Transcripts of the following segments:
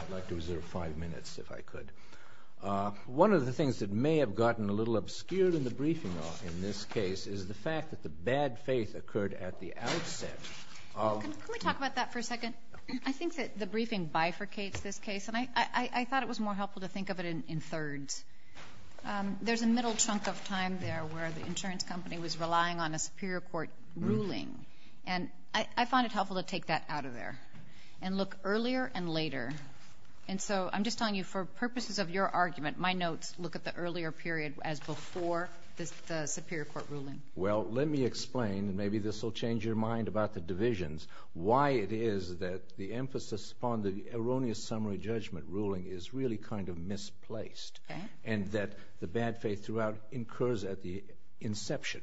I'd like to reserve five minutes if I could. One of the things that may have gotten a little obscured in the briefing in this case is the fact that the bad faith occurred at the outset of… Can we talk about that for a second? I think that the briefing bifurcates this case, and I thought it was more helpful to think of it in thirds. There's a middle chunk of time there where the insurance company was relying on a superior court ruling, and I find it helpful to take that out of there and look earlier and later, and so I'm just telling you for purposes of your argument, my notes look at the earlier period as before the superior court ruling. Well, let me explain, and maybe this will change your mind about the divisions, why it is that the emphasis upon the erroneous summary judgment ruling is really kind of misplaced and that the bad faith throughout incurs at the inception.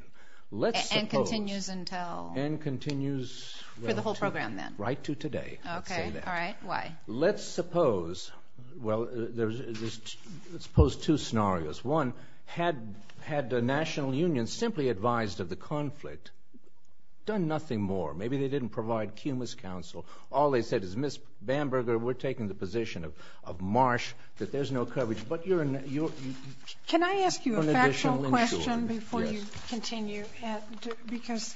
And continues until… And continues… For the whole program, then. Right to today. Okay, all right. Why? Let's suppose… Well, let's suppose two scenarios. One, had the National Union simply advised of the conflict, done nothing more. Maybe they didn't provide cumulus counsel. All they said is, Ms. Bamberger, we're taking the position of Marsh that there's no coverage, but you're… Can I ask you a factual question before you continue, because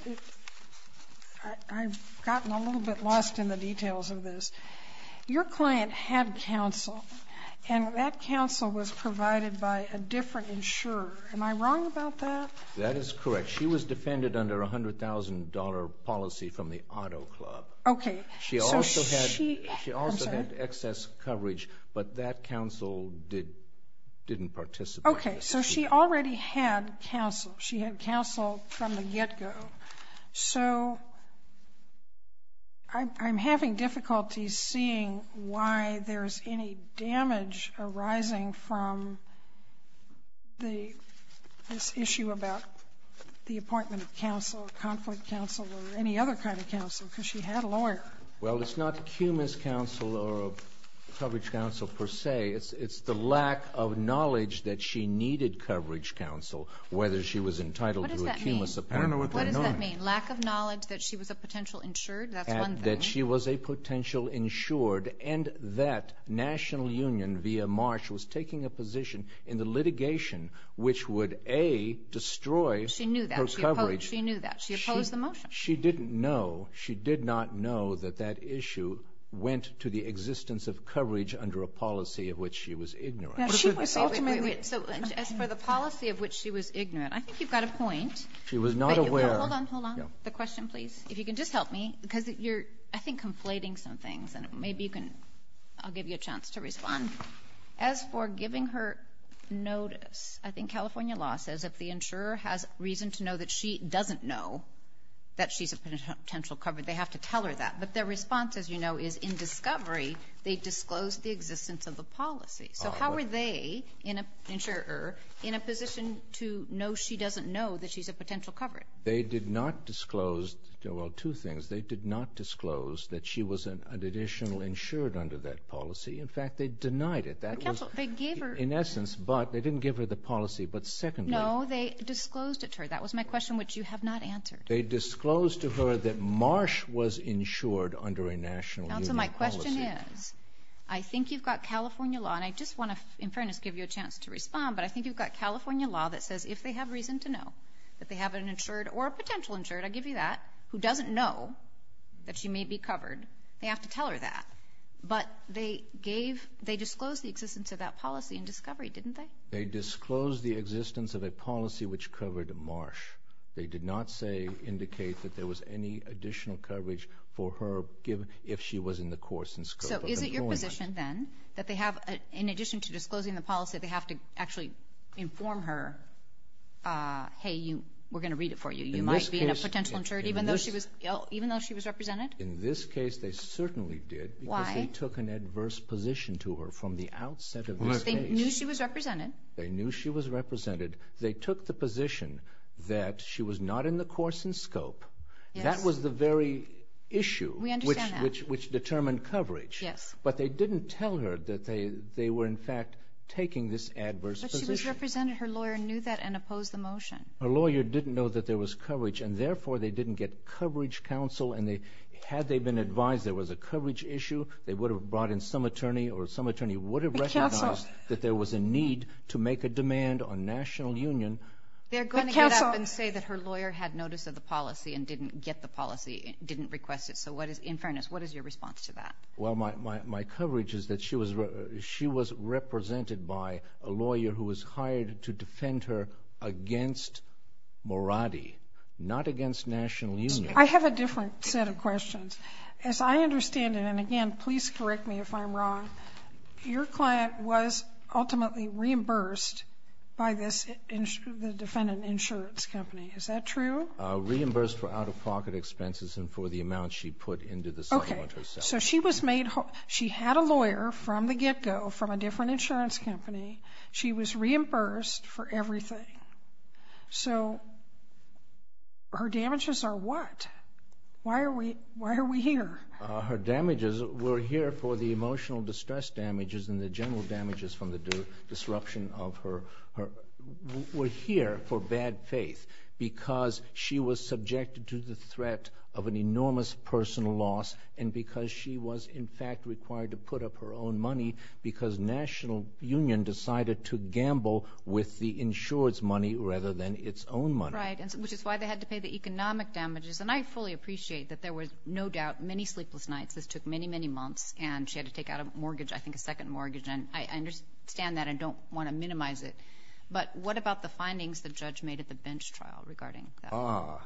I've gotten a little bit lost in the details of this. Your client had counsel, and that counsel was provided by a different insurer. Am I wrong about that? That is correct. She was defended under a $100,000 policy from the auto club. Okay. So she… She had counsel from the get-go, so I'm having difficulty seeing why there's any damage arising from this issue about the appointment of counsel, conflict counsel, or any other kind of counsel, because she had a lawyer. Well, it's not cumulus counsel or coverage counsel per se. It's the lack of knowledge that she needed coverage counsel, whether she was entitled to a cumulus appointment. What does that mean? I don't know what that means. What does that mean? Lack of knowledge that she was a potential insured? That's one thing. And that she was a potential insured, and that National Union, via Marsh, was taking a position in the litigation which would, A, destroy her coverage. She knew that. She knew that. She opposed the motion. She didn't know. She did not know that that issue went to the existence of coverage under a policy of which she was ignorant. Now, she was ultimately… Wait, wait, wait. So as for the policy of which she was ignorant, I think you've got a point. She was not aware. Wait. Hold on. Hold on. The question, please. If you can just help me, because you're, I think, conflating some things. And maybe you can… I'll give you a chance to respond. As for giving her notice, I think California law says if the insurer has reason to know that she doesn't know that she's a potential coverage, they have to tell her that. But their response, as you know, is in discovery, they disclosed the existence of the policy. So how are they, insurer, in a position to know she doesn't know that she's a potential coverage? They did not disclose… Well, two things. They did not disclose that she was an additional insured under that policy. In fact, they denied it. That was… They gave her… In essence, but they didn't give her the policy. But secondly… No. How have they disclosed it to her? That was my question, which you have not answered. They disclosed to her that Marsh was insured under a national union policy. And so my question is, I think you've got California law, and I just want to, in fairness, give you a chance to respond, but I think you've got California law that says if they have reason to know that they have an insured or a potential insured, I give you that, who doesn't know that she may be covered, they have to tell her that. But they gave, they disclosed the existence of that policy in discovery, didn't they? They disclosed the existence of a policy which covered Marsh. They did not say, indicate that there was any additional coverage for her if she was in the course and scope of employment. So is it your position, then, that they have, in addition to disclosing the policy, they have to actually inform her, hey, we're going to read it for you. You might be in a potential insured, even though she was represented? In this case, they certainly did. Because they took an adverse position to her from the outset of this case. They knew she was represented. They knew she was represented. They took the position that she was not in the course and scope. That was the very issue which determined coverage. But they didn't tell her that they were, in fact, taking this adverse position. But she was represented. Her lawyer knew that and opposed the motion. Her lawyer didn't know that there was coverage, and therefore, they didn't get coverage counsel, and had they been advised there was a coverage issue, they would have brought in some attorney or some attorney would have recognized that there was a need to make a demand on National Union. They're going to get up and say that her lawyer had notice of the policy and didn't get the policy, didn't request it. So what is, in fairness, what is your response to that? Well, my coverage is that she was represented by a lawyer who was hired to defend her against Moratti, not against National Union. I have a different set of questions. As I understand it, and again, please correct me if I'm wrong, your client was ultimately reimbursed by the defendant insurance company, is that true? Reimbursed for out-of-pocket expenses and for the amount she put into the settlement herself. Okay, so she was made, she had a lawyer from the get-go from a different insurance company. She was reimbursed for everything. So her damages are what? Why are we here? Her damages were here for the emotional distress damages and the general damages from the disruption of her, were here for bad faith because she was subjected to the threat of an enormous personal loss and because she was, in fact, required to put up her own money because National Union decided to gamble with the insured's money rather than its own money. Right, which is why they had to pay the economic damages. And I fully appreciate that there was no doubt, many sleepless nights, this took many, many months and she had to take out a mortgage, I think a second mortgage, and I understand that and don't want to minimize it, but what about the findings the judge made at the bench trial regarding that? Ah,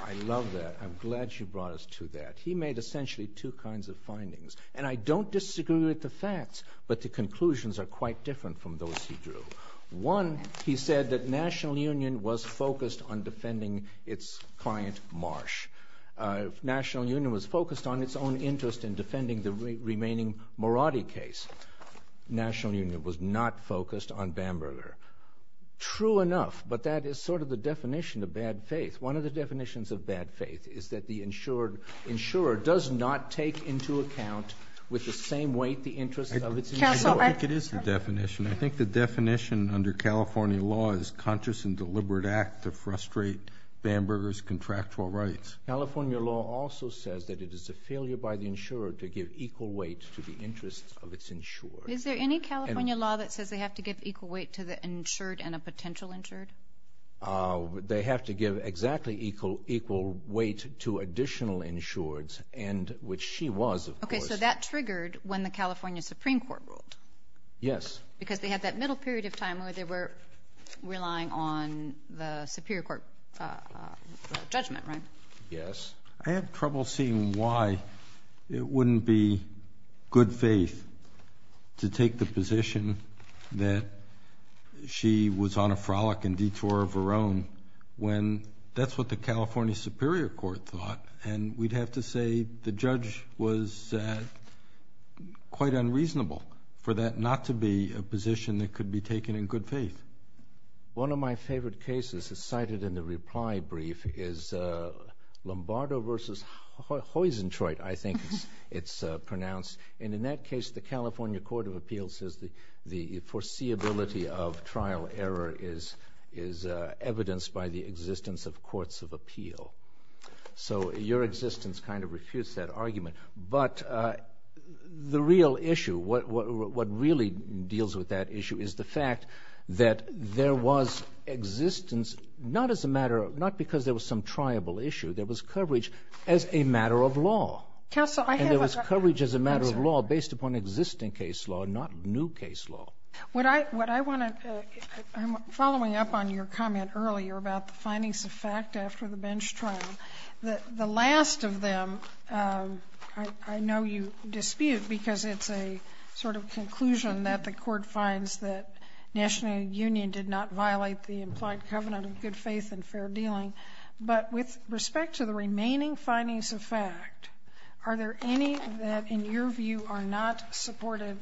I love that. I'm glad you brought us to that. He made essentially two kinds of findings, and I don't disagree with the facts, but the conclusions are quite different from those he drew. One, he said that National Union was focused on defending its client Marsh. National Union was focused on its own interest in defending the remaining Moratti case. National Union was not focused on Bamberger. True enough, but that is sort of the definition of bad faith. One of the definitions of bad faith is that the insured, insurer does not take into account with the same weight the interest of its insurer. I don't think it is the definition. I think the definition under California law is conscious and deliberate act to frustrate Bamberger's contractual rights. California law also says that it is a failure by the insurer to give equal weight to the interest of its insured. Is there any California law that says they have to give equal weight to the insured and a potential insured? They have to give exactly equal weight to additional insureds, and which she was, of course. So that triggered when the California Supreme Court ruled? Yes. Because they had that middle period of time where they were relying on the Superior Court judgment, right? Yes. I have trouble seeing why it wouldn't be good faith to take the position that she was on a frolic and detour of her own when that's what the California Superior Court thought, and we'd have to say the judge was quite unreasonable for that not to be a position that could be taken in good faith. One of my favorite cases is cited in the reply brief is Lombardo v. Heusentraut, I think it's pronounced, and in that case, the California Court of Appeals says the foreseeability of trial error is evidenced by the existence of courts of appeal. So, your existence kind of refutes that argument, but the real issue, what really deals with that issue is the fact that there was existence, not as a matter of, not because there was some triable issue, there was coverage as a matter of law, and there was coverage as a matter of law based upon existing case law, not new case law. What I want to, I'm following up on your comment earlier about the findings of fact after the bench trial, the last of them, I know you dispute because it's a sort of conclusion that the court finds that National Union did not violate the implied covenant of good faith and fair dealing, but with respect to the remaining findings of fact, are there any that, in your view, are not supported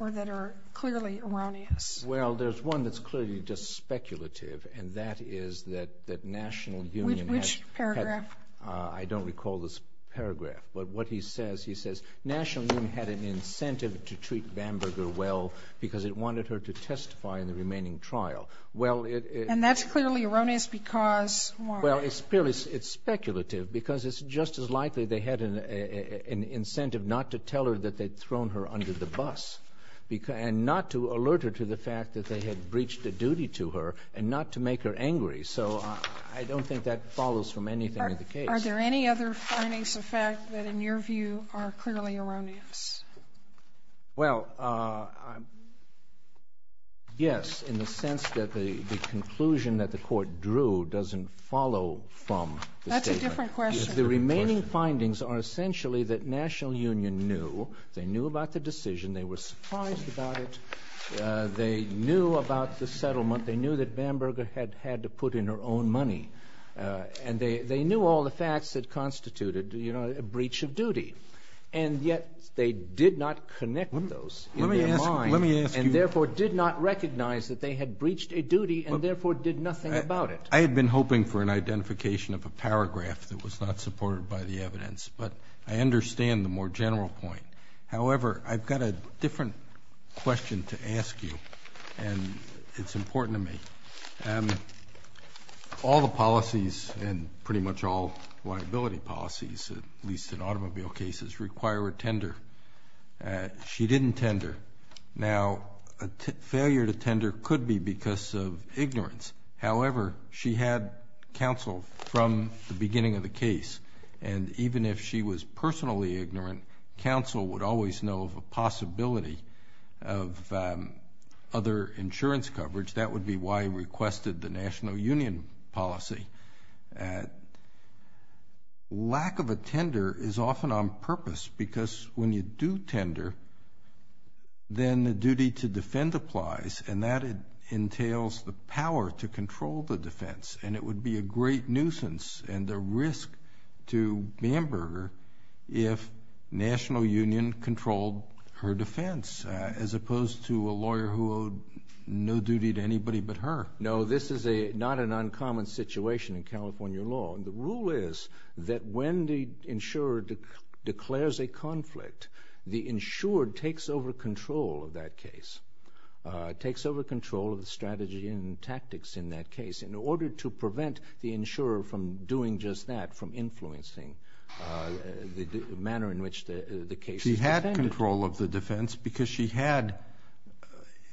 or that are clearly erroneous? Well, there's one that's clearly just speculative, and that is that National Union had... Which paragraph? I don't recall this paragraph, but what he says, he says, National Union had an incentive to treat Bamberger well because it wanted her to testify in the remaining trial. Well, it... And that's clearly erroneous because why? Well, it's speculative because it's just as likely they had an incentive not to tell her that they'd thrown her under the bus and not to alert her to the fact that they had breached a duty to her and not to make her angry, so I don't think that follows from anything in the case. Are there any other findings of fact that, in your view, are clearly erroneous? Well, yes, in the sense that the conclusion that the court drew doesn't follow from the statement. That's a different question. The remaining findings are essentially that National Union knew, they knew about the decision, they were surprised about it, they knew about the settlement, they knew that Bamberger had had to put in her own money, and they knew all the facts that constituted a breach of duty, and yet they did not connect those in their mind and therefore did not recognize that they had breached a duty and therefore did nothing about it. I had been hoping for an identification of a paragraph that was not supported by the evidence, but I understand the more general point. However, I've got a different question to ask you, and it's important to me. All the policies, and pretty much all liability policies, at least in automobile cases, require a tender. She didn't tender. Now, a failure to tender could be because of ignorance. However, she had counsel from the beginning of the case, and even if she was personally ignorant, counsel would always know of a possibility of other insurance coverage. That would be why he requested the National Union policy. Lack of a tender is often on purpose because when you do tender, then the duty to defend applies and that entails the power to control the defense, and it would be a great nuisance and a risk to Bamberger if National Union controlled her defense as opposed to a lawyer who owed no duty to anybody but her. No, this is not an uncommon situation in California law, and the rule is that when the insurer declares a conflict, the insurer takes over control of that case, takes over control of the strategy and tactics in that case in order to prevent the insurer from doing just that, from influencing the manner in which the case is defended. But they did control of the defense because she had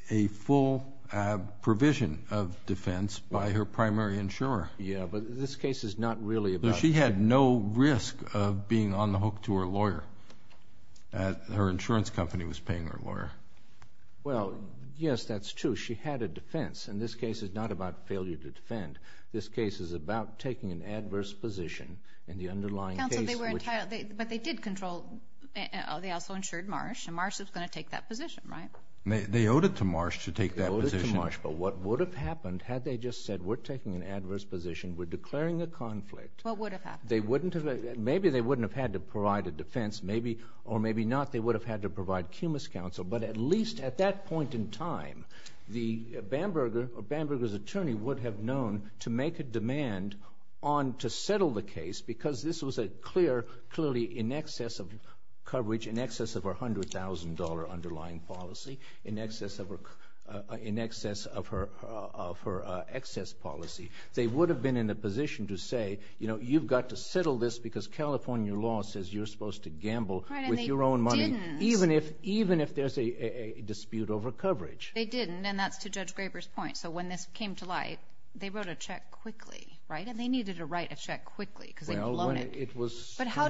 a full provision of defense by her primary insurer. Yeah, but this case is not really about... She had no risk of being on the hook to her lawyer, that her insurance company was paying her lawyer. Well, yes, that's true. She had a defense, and this case is not about failure to defend. But they did control... They also insured Marsh, and Marsh was going to take that position, right? They owed it to Marsh to take that position. They owed it to Marsh, but what would have happened had they just said, we're taking an adverse position, we're declaring a conflict... What would have happened? They wouldn't have... Maybe they wouldn't have had to provide a defense, or maybe not, they would have had to provide cumulus counsel, but at least at that point in time, the Bamberger or Bamberger's attorney would have known to make a demand on to settle the case because this was a clear, clearly in excess of coverage, in excess of her $100,000 underlying policy, in excess of her excess policy. They would have been in a position to say, you know, you've got to settle this because California law says you're supposed to gamble with your own money, even if there's a dispute over coverage. They didn't, and that's to Judge Graber's point. So when this came to light, they wrote a check quickly, right, and they needed to write a But how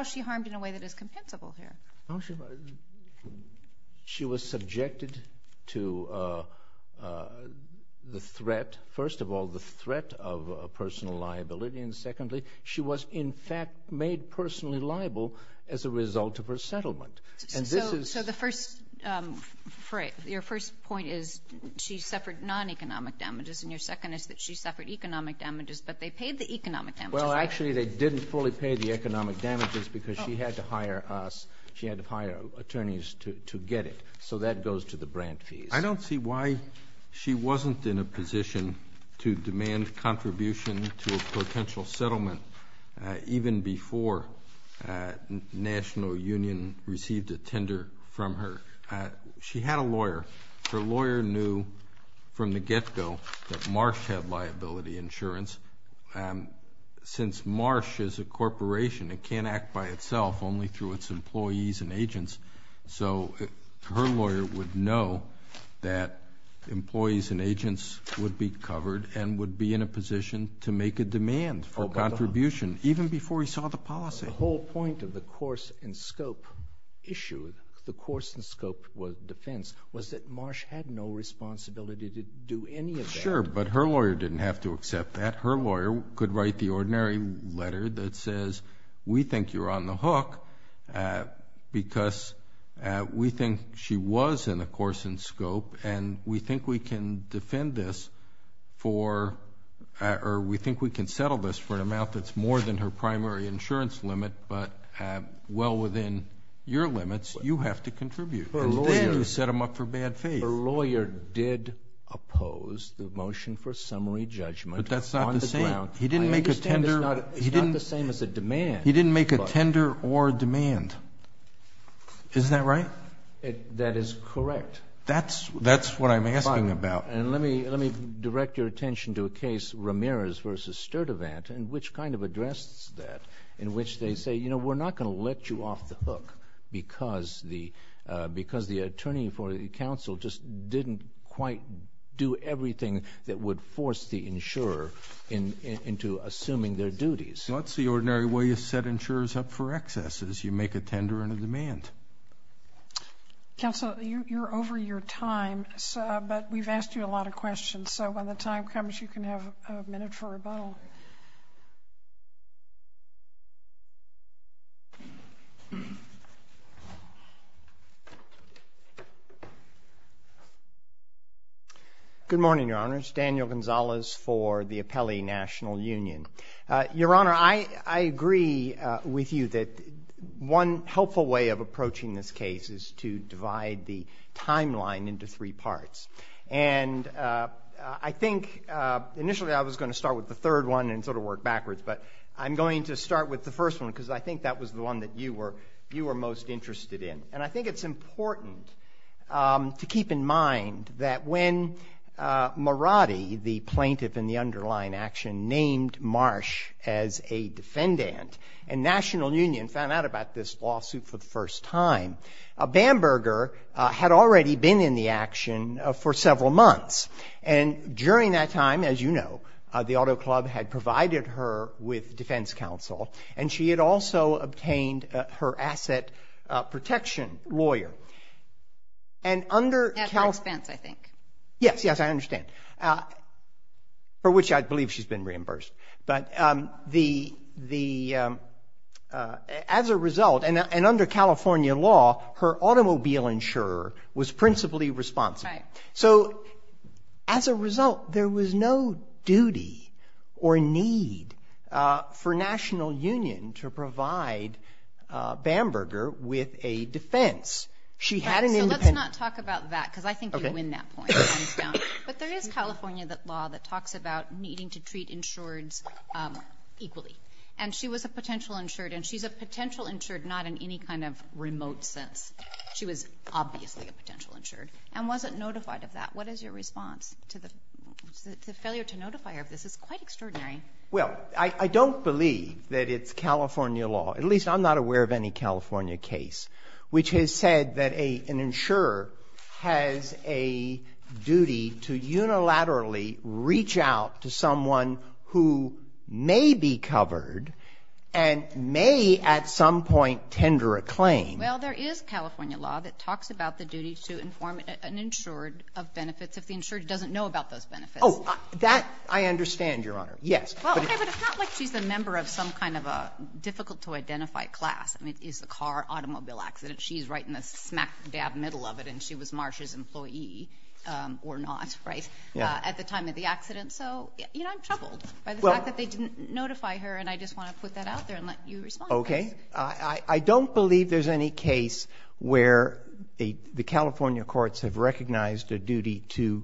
is she harmed in a way that is compensable here? She was subjected to the threat, first of all, the threat of personal liability, and secondly, she was in fact made personally liable as a result of her settlement, and this is... So your first point is she suffered non-economic damages, and your second is that she suffered economic damages, but they paid the economic damages, right? Well, actually, they didn't fully pay the economic damages because she had to hire us, she had to hire attorneys to get it, so that goes to the brand fees. I don't see why she wasn't in a position to demand contribution to a potential settlement even before National Union received a tender from her. She had a lawyer. Her lawyer knew from the get-go that Marsh had liability insurance. Since Marsh is a corporation, it can't act by itself only through its employees and agents, so her lawyer would know that employees and agents would be covered and would be in a position to make a demand for contribution even before he saw the policy. The whole point of the course and scope issue, the course and scope defense, was that Marsh had no responsibility to do any of that. Sure, but her lawyer didn't have to accept that. Her lawyer could write the ordinary letter that says, we think you're on the hook because we think she was in a course and scope, and we think we can defend this for... or we think we can settle this for an amount that's more than her primary insurance limit, but well within your limits, you have to contribute. Her lawyer... Instead, you set them up for bad faith. Her lawyer did oppose the motion for summary judgment on the ground. But that's not the same. He didn't make a tender. I understand it's not the same as a demand. He didn't make a tender or a demand. Is that right? That is correct. That's what I'm asking about. Let me direct your attention to a case, Ramirez v. Sturdivant, which kind of addresses that, in which they say, you know, we're not going to let you off the hook because the attorney for the counsel just didn't quite do everything that would force the insurer into assuming their duties. That's the ordinary way you set insurers up for excesses. You make a tender and a demand. Counsel, you're over your time, but we've asked you a lot of questions, so when the time comes, you can have a minute for rebuttal. Good morning, Your Honor. It's Daniel Gonzalez for the Appellee National Union. Your Honor, I agree with you that one helpful way of approaching this case is to divide the timeline into three parts, and I think initially I was going to start with the third one and sort of work backwards, but I'm going to start with the first one because I think that was the one that you were most interested in, and I think it's important to keep in named Marsh as a defendant, and National Union found out about this lawsuit for the first time. Bamberger had already been in the action for several months, and during that time, as you know, the Auto Club had provided her with defense counsel, and she had also obtained her asset protection lawyer. And under counsel— At my expense, I think. Yes. Yes, I understand. For which I believe she's been reimbursed. But as a result, and under California law, her automobile insurer was principally responsible. So as a result, there was no duty or need for National Union to provide Bamberger with a defense. She had an independent— So let's not talk about that because I think you win that point. But there is California law that talks about needing to treat insureds equally, and she was a potential insured, and she's a potential insured not in any kind of remote sense. She was obviously a potential insured, and wasn't notified of that. What is your response to the failure to notify her of this? It's quite extraordinary. Well, I don't believe that it's California law, at least I'm not aware of any California case, which has said that an insurer has a duty to unilaterally reach out to someone who may be covered and may at some point tender a claim. Well, there is California law that talks about the duty to inform an insured of benefits if the insured doesn't know about those benefits. Oh, that I understand, Your Honor. Yes. Well, okay, but it's not like she's a member of some kind of a difficult-to-identify class. I mean, is the car automobile accident? She's right in the smack dab middle of it, and she was Marsh's employee or not, right, at the time of the accident. So, you know, I'm troubled by the fact that they didn't notify her, and I just want to put that out there and let you respond to it. Okay. I don't believe there's any case where the California courts have recognized a duty to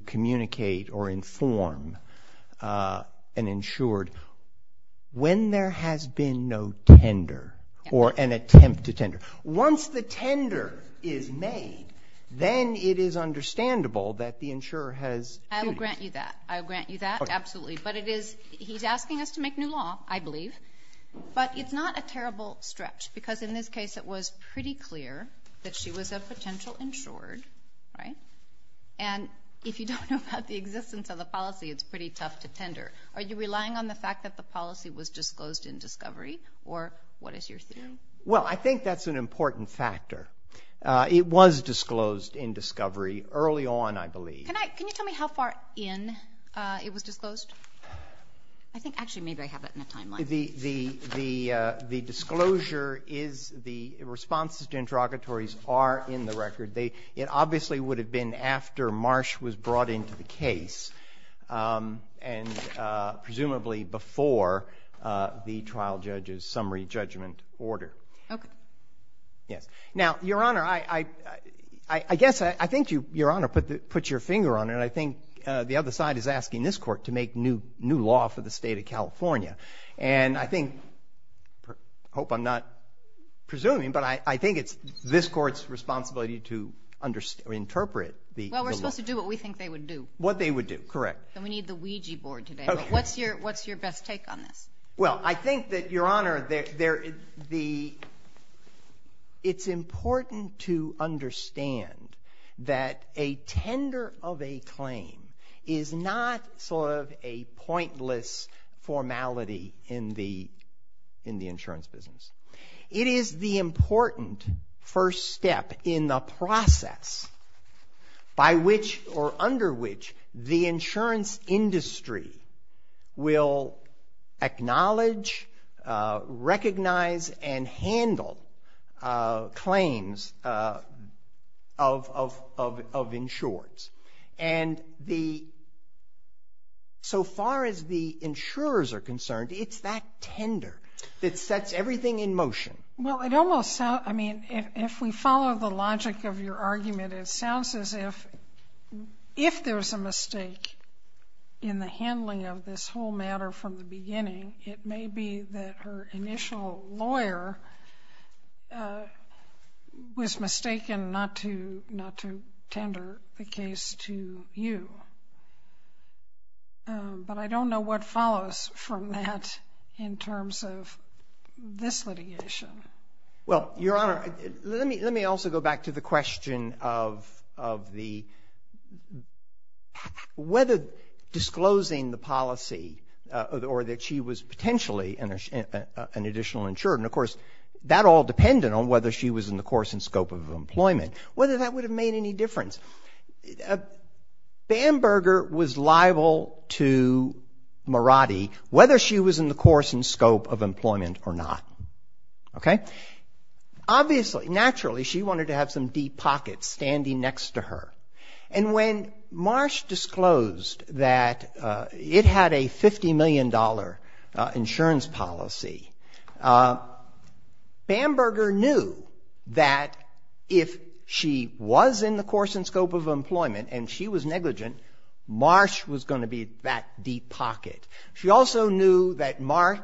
Once the tender is made, then it is understandable that the insurer has duties. I will grant you that. I will grant you that, absolutely. Okay. But it is, he's asking us to make new law, I believe, but it's not a terrible stretch because in this case it was pretty clear that she was a potential insured, right? And if you don't know about the existence of the policy, it's pretty tough to tender. Are you relying on the fact that the policy was disclosed in discovery, or what is your Well, I think that's an important factor. It was disclosed in discovery early on, I believe. Can you tell me how far in it was disclosed? I think, actually, maybe I have it in a timeline. The disclosure is, the responses to interrogatories are in the record. It obviously would have been after Marsh was brought into the case, and presumably before the trial judge's summary judgment order. Okay. Yes. Now, Your Honor, I guess, I think Your Honor put your finger on it, and I think the other side is asking this court to make new law for the state of California. And I think, I hope I'm not presuming, but I think it's this court's responsibility to interpret the law. Well, we're supposed to do what we think they would do. What they would do, correct. And we need the Ouija board today, but what's your best take on this? Well, I think that, Your Honor, it's important to understand that a tender of a claim is not sort of a pointless formality in the insurance business. It is the important first step in the process by which, or under which, the insurance industry will acknowledge, recognize, and handle claims of insurers. And the, so far as the insurers are concerned, it's that tender that sets everything in motion. Well, it almost sounds, I mean, if we follow the logic of your argument, it sounds as if there's a mistake in the handling of this whole matter from the beginning, it may be that her initial lawyer was mistaken not to tender the case to you. But I don't know what follows from that in terms of this litigation. Well, Your Honor, let me also go back to the question of the, whether disclosing the policy or that she was potentially an additional insurer, and of course, that all depended on whether she was in the course and scope of employment, whether that would have made any difference. Bamberger was liable to Marotti whether she was in the course and scope of employment or not, okay? Obviously, naturally, she wanted to have some deep pockets standing next to her. And when Marsh disclosed that it had a $50 million insurance policy, Bamberger knew that if she was in the course and scope of employment and she was negligent, Marsh was going to be that deep pocket. She also knew that Mar,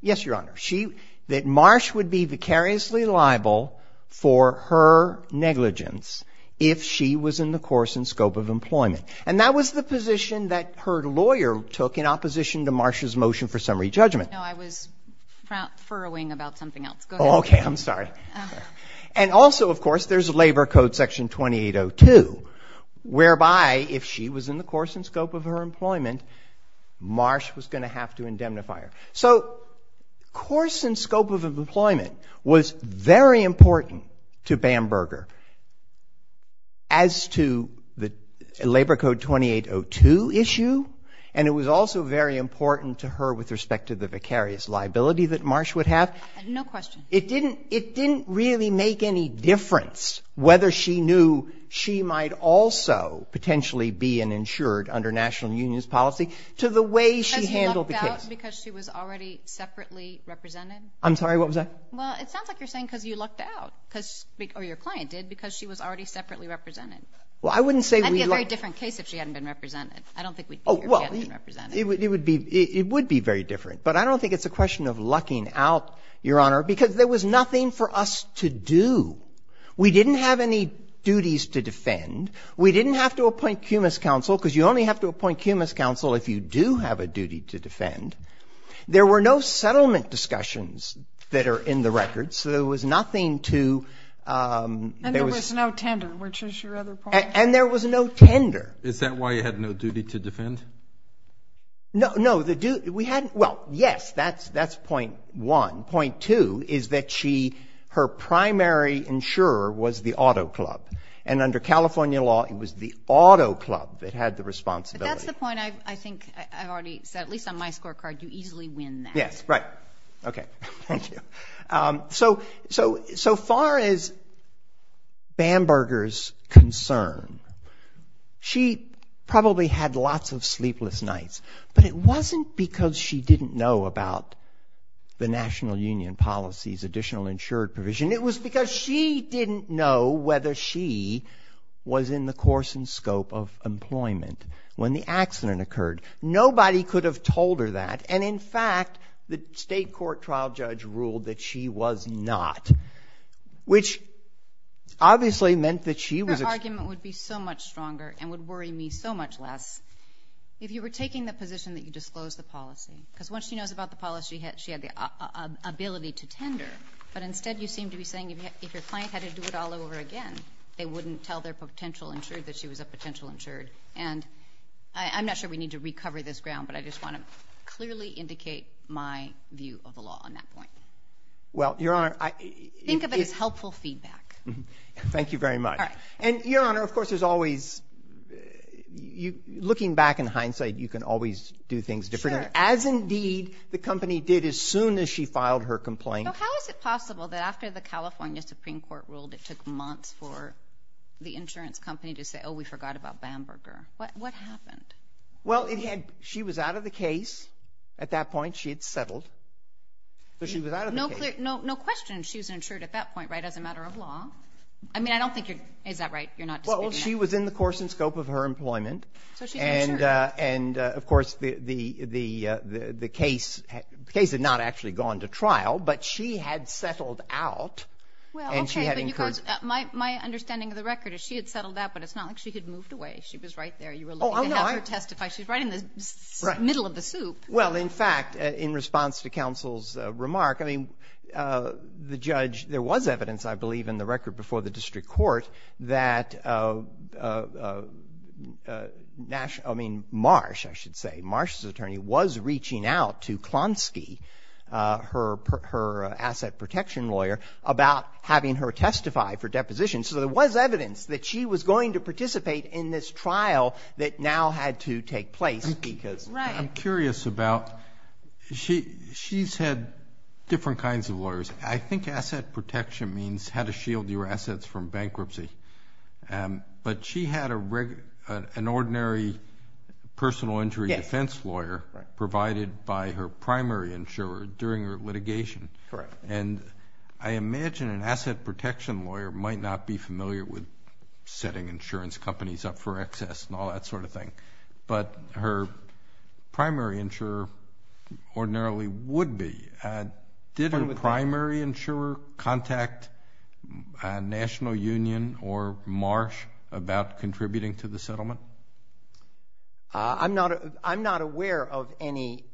yes, Your Honor, she, that Marsh would be vicariously liable for her negligence if she was in the course and scope of employment. And that was the position that her lawyer took in opposition to Marsh's motion for summary judgment. No, I was furrowing about something else. Go ahead. Okay, I'm sorry. And also, of course, there's Labor Code Section 2802, whereby if she was in the course and scope of her employment, Marsh was going to have to indemnify her. So course and scope of employment was very important to Bamberger as to the Labor Code 2802 issue. And it was also very important to her with respect to the vicarious liability that Marsh would have. No question. It didn't, it didn't really make any difference whether she knew she might also potentially be an insured under national union's policy to the way she handled the case. Was that because she was already separately represented? I'm sorry, what was that? Well, it sounds like you're saying because you lucked out, because, or your client did, because she was already separately represented. Well, I wouldn't say we lucked. That would be a very different case if she hadn't been represented. I don't think we'd figure she hadn't been represented. Oh, well, it would be, it would be very different. But I don't think it's a question of lucking out, Your Honor, because there was nothing for us to do. We didn't have any duties to defend. We didn't have to appoint cumulus counsel, because you only have to appoint cumulus counsel if you do have a duty to defend. There were no settlement discussions that are in the record, so there was nothing to And there was no tender, which is your other point. And there was no tender. Is that why you had no duty to defend? No, no, the duty, we had, well, yes, that's, that's point one. Point two is that she, her primary insurer was the auto club. And under California law, it was the auto club that had the responsibility. That's the point I think I've already said, at least on my scorecard, you easily win that. Yes, right. Okay. Thank you. So, so, so far as Bamberger's concerned, she probably had lots of sleepless nights. But it wasn't because she didn't know about the National Union policy's additional insured provision. It was because she didn't know whether she was in the course and scope of employment when the accident occurred. Nobody could have told her that. And in fact, the state court trial judge ruled that she was not, which obviously meant that she was- Her argument would be so much stronger and would worry me so much less if you were taking the position that you disclosed the policy. Because once she knows about the policy, she had the ability to tender, but instead you seem to be saying if your client had to do it all over again, they wouldn't tell their potential insured that she was a potential insured. And I, I'm not sure we need to recover this ground, but I just want to clearly indicate my view of the law on that point. Well, Your Honor, I- Think of it as helpful feedback. Thank you very much. All right. And Your Honor, of course, there's always, looking back in hindsight, you can always do things differently. Sure. As indeed the company did as soon as she filed her complaint. So how is it possible that after the California Supreme Court ruled it took months for the insurance company to say, oh, we forgot about Bamberger? What happened? Well, it had, she was out of the case at that point. She had settled. So she was out of the case. No question she was insured at that point, right, as a matter of law. I mean, I don't think you're, is that right? You're not disputing that? Well, she was in the course and scope of her employment. So she's insured. And of course, the case had not actually gone to trial, but she had settled out and she had incurred- My understanding of the record is she had settled out, but it's not like she had moved away. She was right there. You were looking to have her testify. She was right in the middle of the soup. Well, in fact, in response to counsel's remark, I mean, the judge, there was evidence, I believe, in the record before the district court that Nash, I mean, Marsh, I should say, Marsh's out to Klonsky, her asset protection lawyer, about having her testify for deposition. So there was evidence that she was going to participate in this trial that now had to take place because- Right. I'm curious about, she's had different kinds of lawyers. I think asset protection means how to shield your assets from bankruptcy. But she had an ordinary personal injury defense lawyer provided by her primary insurer during her litigation. Correct. And I imagine an asset protection lawyer might not be familiar with setting insurance companies up for excess and all that sort of thing, but her primary insurer ordinarily would be. Did her primary insurer contact National Union or Marsh about contributing to the settlement? I'm not aware of any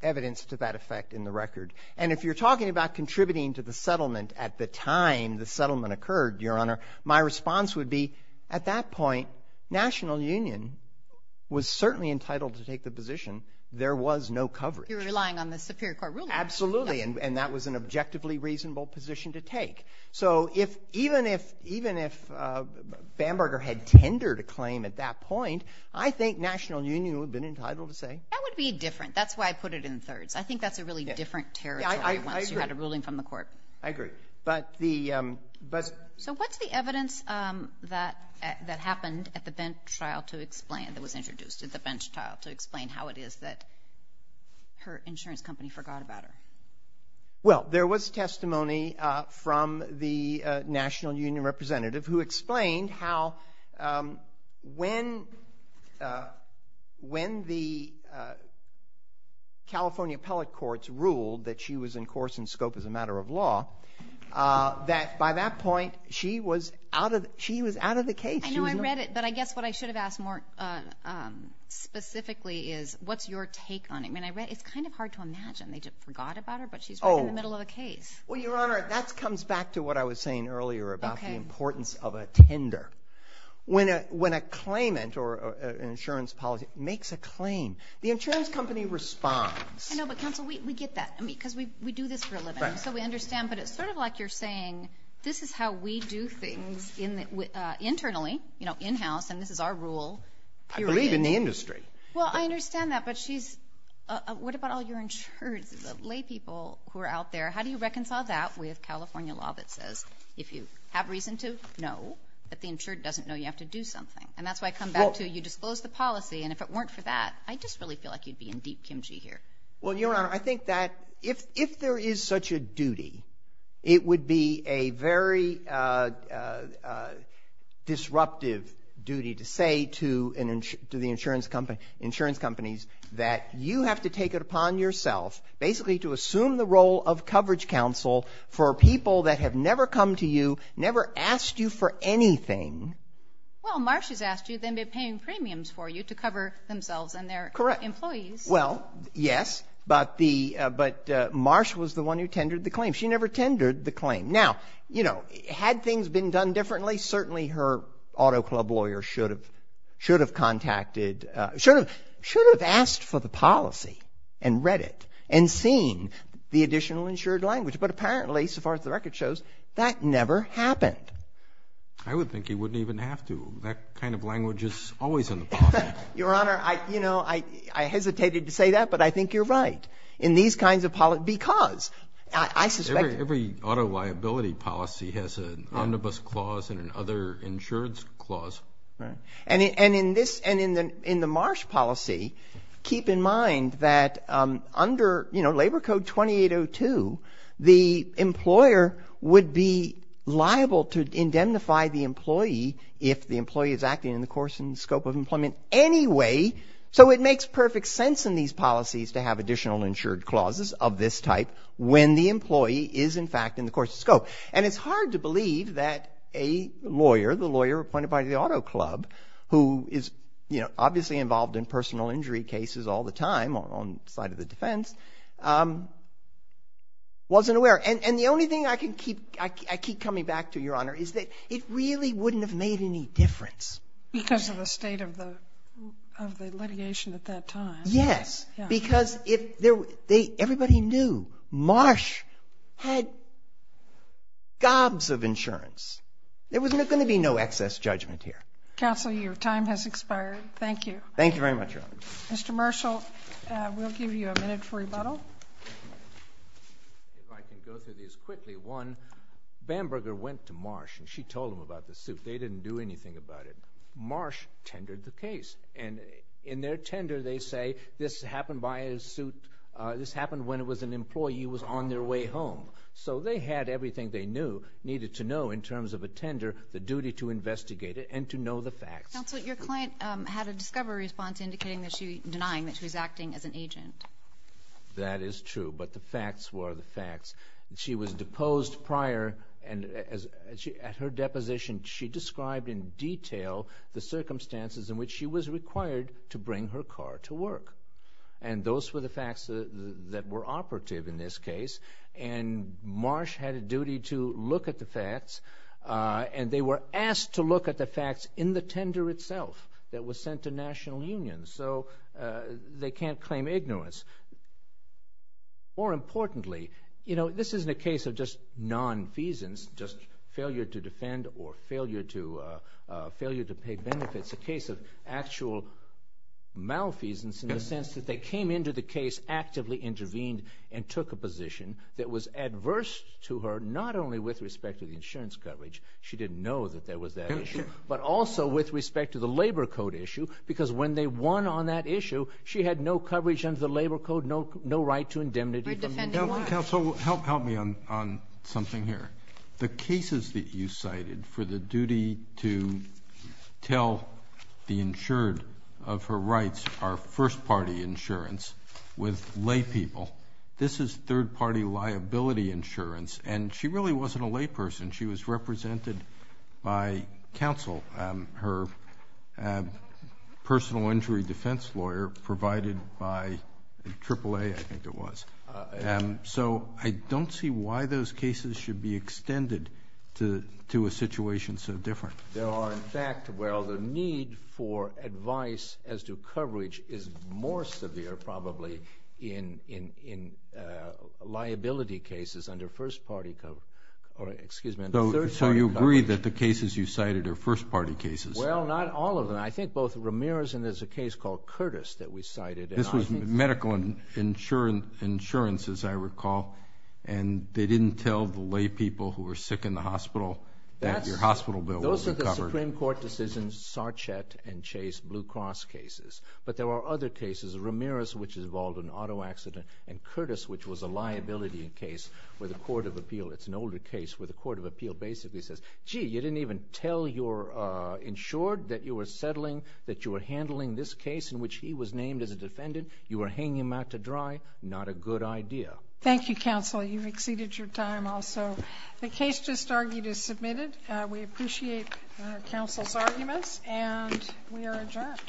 evidence to that effect in the record. And if you're talking about contributing to the settlement at the time the settlement occurred, Your Honor, my response would be at that point, National Union was certainly entitled to take the position. There was no coverage. You're relying on the Superior Court ruling. Absolutely. And that was an objectively reasonable position to take. So even if Bamberger had tendered a claim at that point, I think National Union would have been entitled to say- That would be different. That's why I put it in thirds. I think that's a really different territory once you had a ruling from the court. I agree. But the- So what's the evidence that happened at the bench trial to explain, that was introduced at the bench trial to explain how it is that her insurance company forgot about her? Well, there was testimony from the National Union representative who explained how when the California appellate courts ruled that she was in course and scope as a matter of law, that by that point, she was out of the case. She was- But I guess what I should have asked more specifically is, what's your take on it? I mean, it's kind of hard to imagine. They just forgot about her, but she's right in the middle of the case. Well, Your Honor, that comes back to what I was saying earlier about the importance of a tender. When a claimant or an insurance policy makes a claim, the insurance company responds. I know, but counsel, we get that. I mean, because we do this for a living, so we understand, but it's sort of like you're doing things internally, you know, in-house, and this is our rule. I believe in the industry. Well, I understand that, but what about all your insureds, the laypeople who are out there? How do you reconcile that with California law that says if you have reason to, no, but the insured doesn't know you have to do something? And that's why I come back to, you disclosed the policy, and if it weren't for that, I just really feel like you'd be in deep kimchi here. Well, Your Honor, I think that if there is such a duty, it would be a very disruptive duty to say to the insurance companies that you have to take it upon yourself basically to assume the role of coverage counsel for people that have never come to you, never asked you for anything. Well, Marsh has asked you, they may be paying premiums for you to cover themselves and their employees. Correct. They may be paying premiums for their employees. Well, yes, but the, but Marsh was the one who tendered the claim. She never tendered the claim. Now, you know, had things been done differently, certainly her auto club lawyer should have contacted, should have, should have asked for the policy and read it and seen the additional insured language. But apparently, so far as the record shows, that never happened. I would think he wouldn't even have to. That kind of language is always in the policy. Your Honor, I, you know, I, I hesitated to say that, but I think you're right. In these kinds of policy, because I suspect. Every auto liability policy has an omnibus clause and an other insurance clause. Right. And in, and in this, and in the, in the Marsh policy, keep in mind that under, you know, Labor Code 2802, the employer would be liable to indemnify the employee if the employee is acting in the course and scope of employment anyway. So it makes perfect sense in these policies to have additional insured clauses of this type when the employee is in fact in the course of scope. And it's hard to believe that a lawyer, the lawyer appointed by the auto club, who is, you know, obviously involved in personal injury cases all the time on the side of the defense, wasn't aware. And, and the only thing I can keep, I keep coming back to, Your Honor, is that it really wouldn't have made any difference. Because of the state of the, of the litigation at that time. Yes. Because if there were, they, everybody knew Marsh had gobs of insurance. There was going to be no excess judgment here. Counsel, your time has expired. Thank you. Thank you very much, Your Honor. Mr. Marshall, we'll give you a minute for rebuttal. If I can go through these quickly. One, Bamberger went to Marsh and she told him about the suit. They didn't do anything about it. Marsh tendered the case. And in their tender, they say, this happened by a suit, this happened when it was an employee was on their way home. So they had everything they knew, needed to know in terms of a tender, the duty to investigate it and to know the facts. Counsel, your client had a discovery response indicating that she, denying that she was acting as an agent. That is true. But the facts were the facts. She was deposed prior and at her deposition, she described in detail the circumstances in which she was required to bring her car to work. And those were the facts that were operative in this case. And Marsh had a duty to look at the facts. And they were asked to look at the facts in the tender itself that was sent to national unions. So they can't claim ignorance. More importantly, you know, this isn't a case of just nonfeasance, just failure to defend or failure to pay benefits. It's a case of actual malfeasance in the sense that they came into the case, actively intervened and took a position that was adverse to her, not only with respect to the insurance coverage, she didn't know that there was that issue, but also with respect to the labor code issue because when they won on that issue, she had no coverage under the labor code, no right to indemnity. Counsel, help me on something here. The cases that you cited for the duty to tell the insured of her rights are first party insurance with lay people. This is third party liability insurance and she really wasn't a lay person. She was represented by counsel, her personal injury defense lawyer provided by AAA, I think it was. So I don't see why those cases should be extended to a situation so different. There are, in fact, where all the need for advice as to coverage is more severe probably in liability cases under third party coverage. So you agree that the cases you cited are first party cases? Well, not all of them. I think both Ramirez and there's a case called Curtis that we cited. This was medical insurance, as I recall, and they didn't tell the lay people who were sick in the hospital that your hospital bill was covered. Those are the Supreme Court decisions, Sarchett and Chase Blue Cross cases. But there are other cases, Ramirez, which involved an auto accident, and Curtis, which was a liability case with a court of appeal. It's an older case where the court of appeal basically says, gee, you didn't even tell your insured that you were settling, that you were handling this case in which he was named as a defendant. You were hanging him out to dry. Not a good idea. Thank you, counsel. You've exceeded your time also. The case just argued is submitted. We appreciate counsel's arguments and we are adjourned.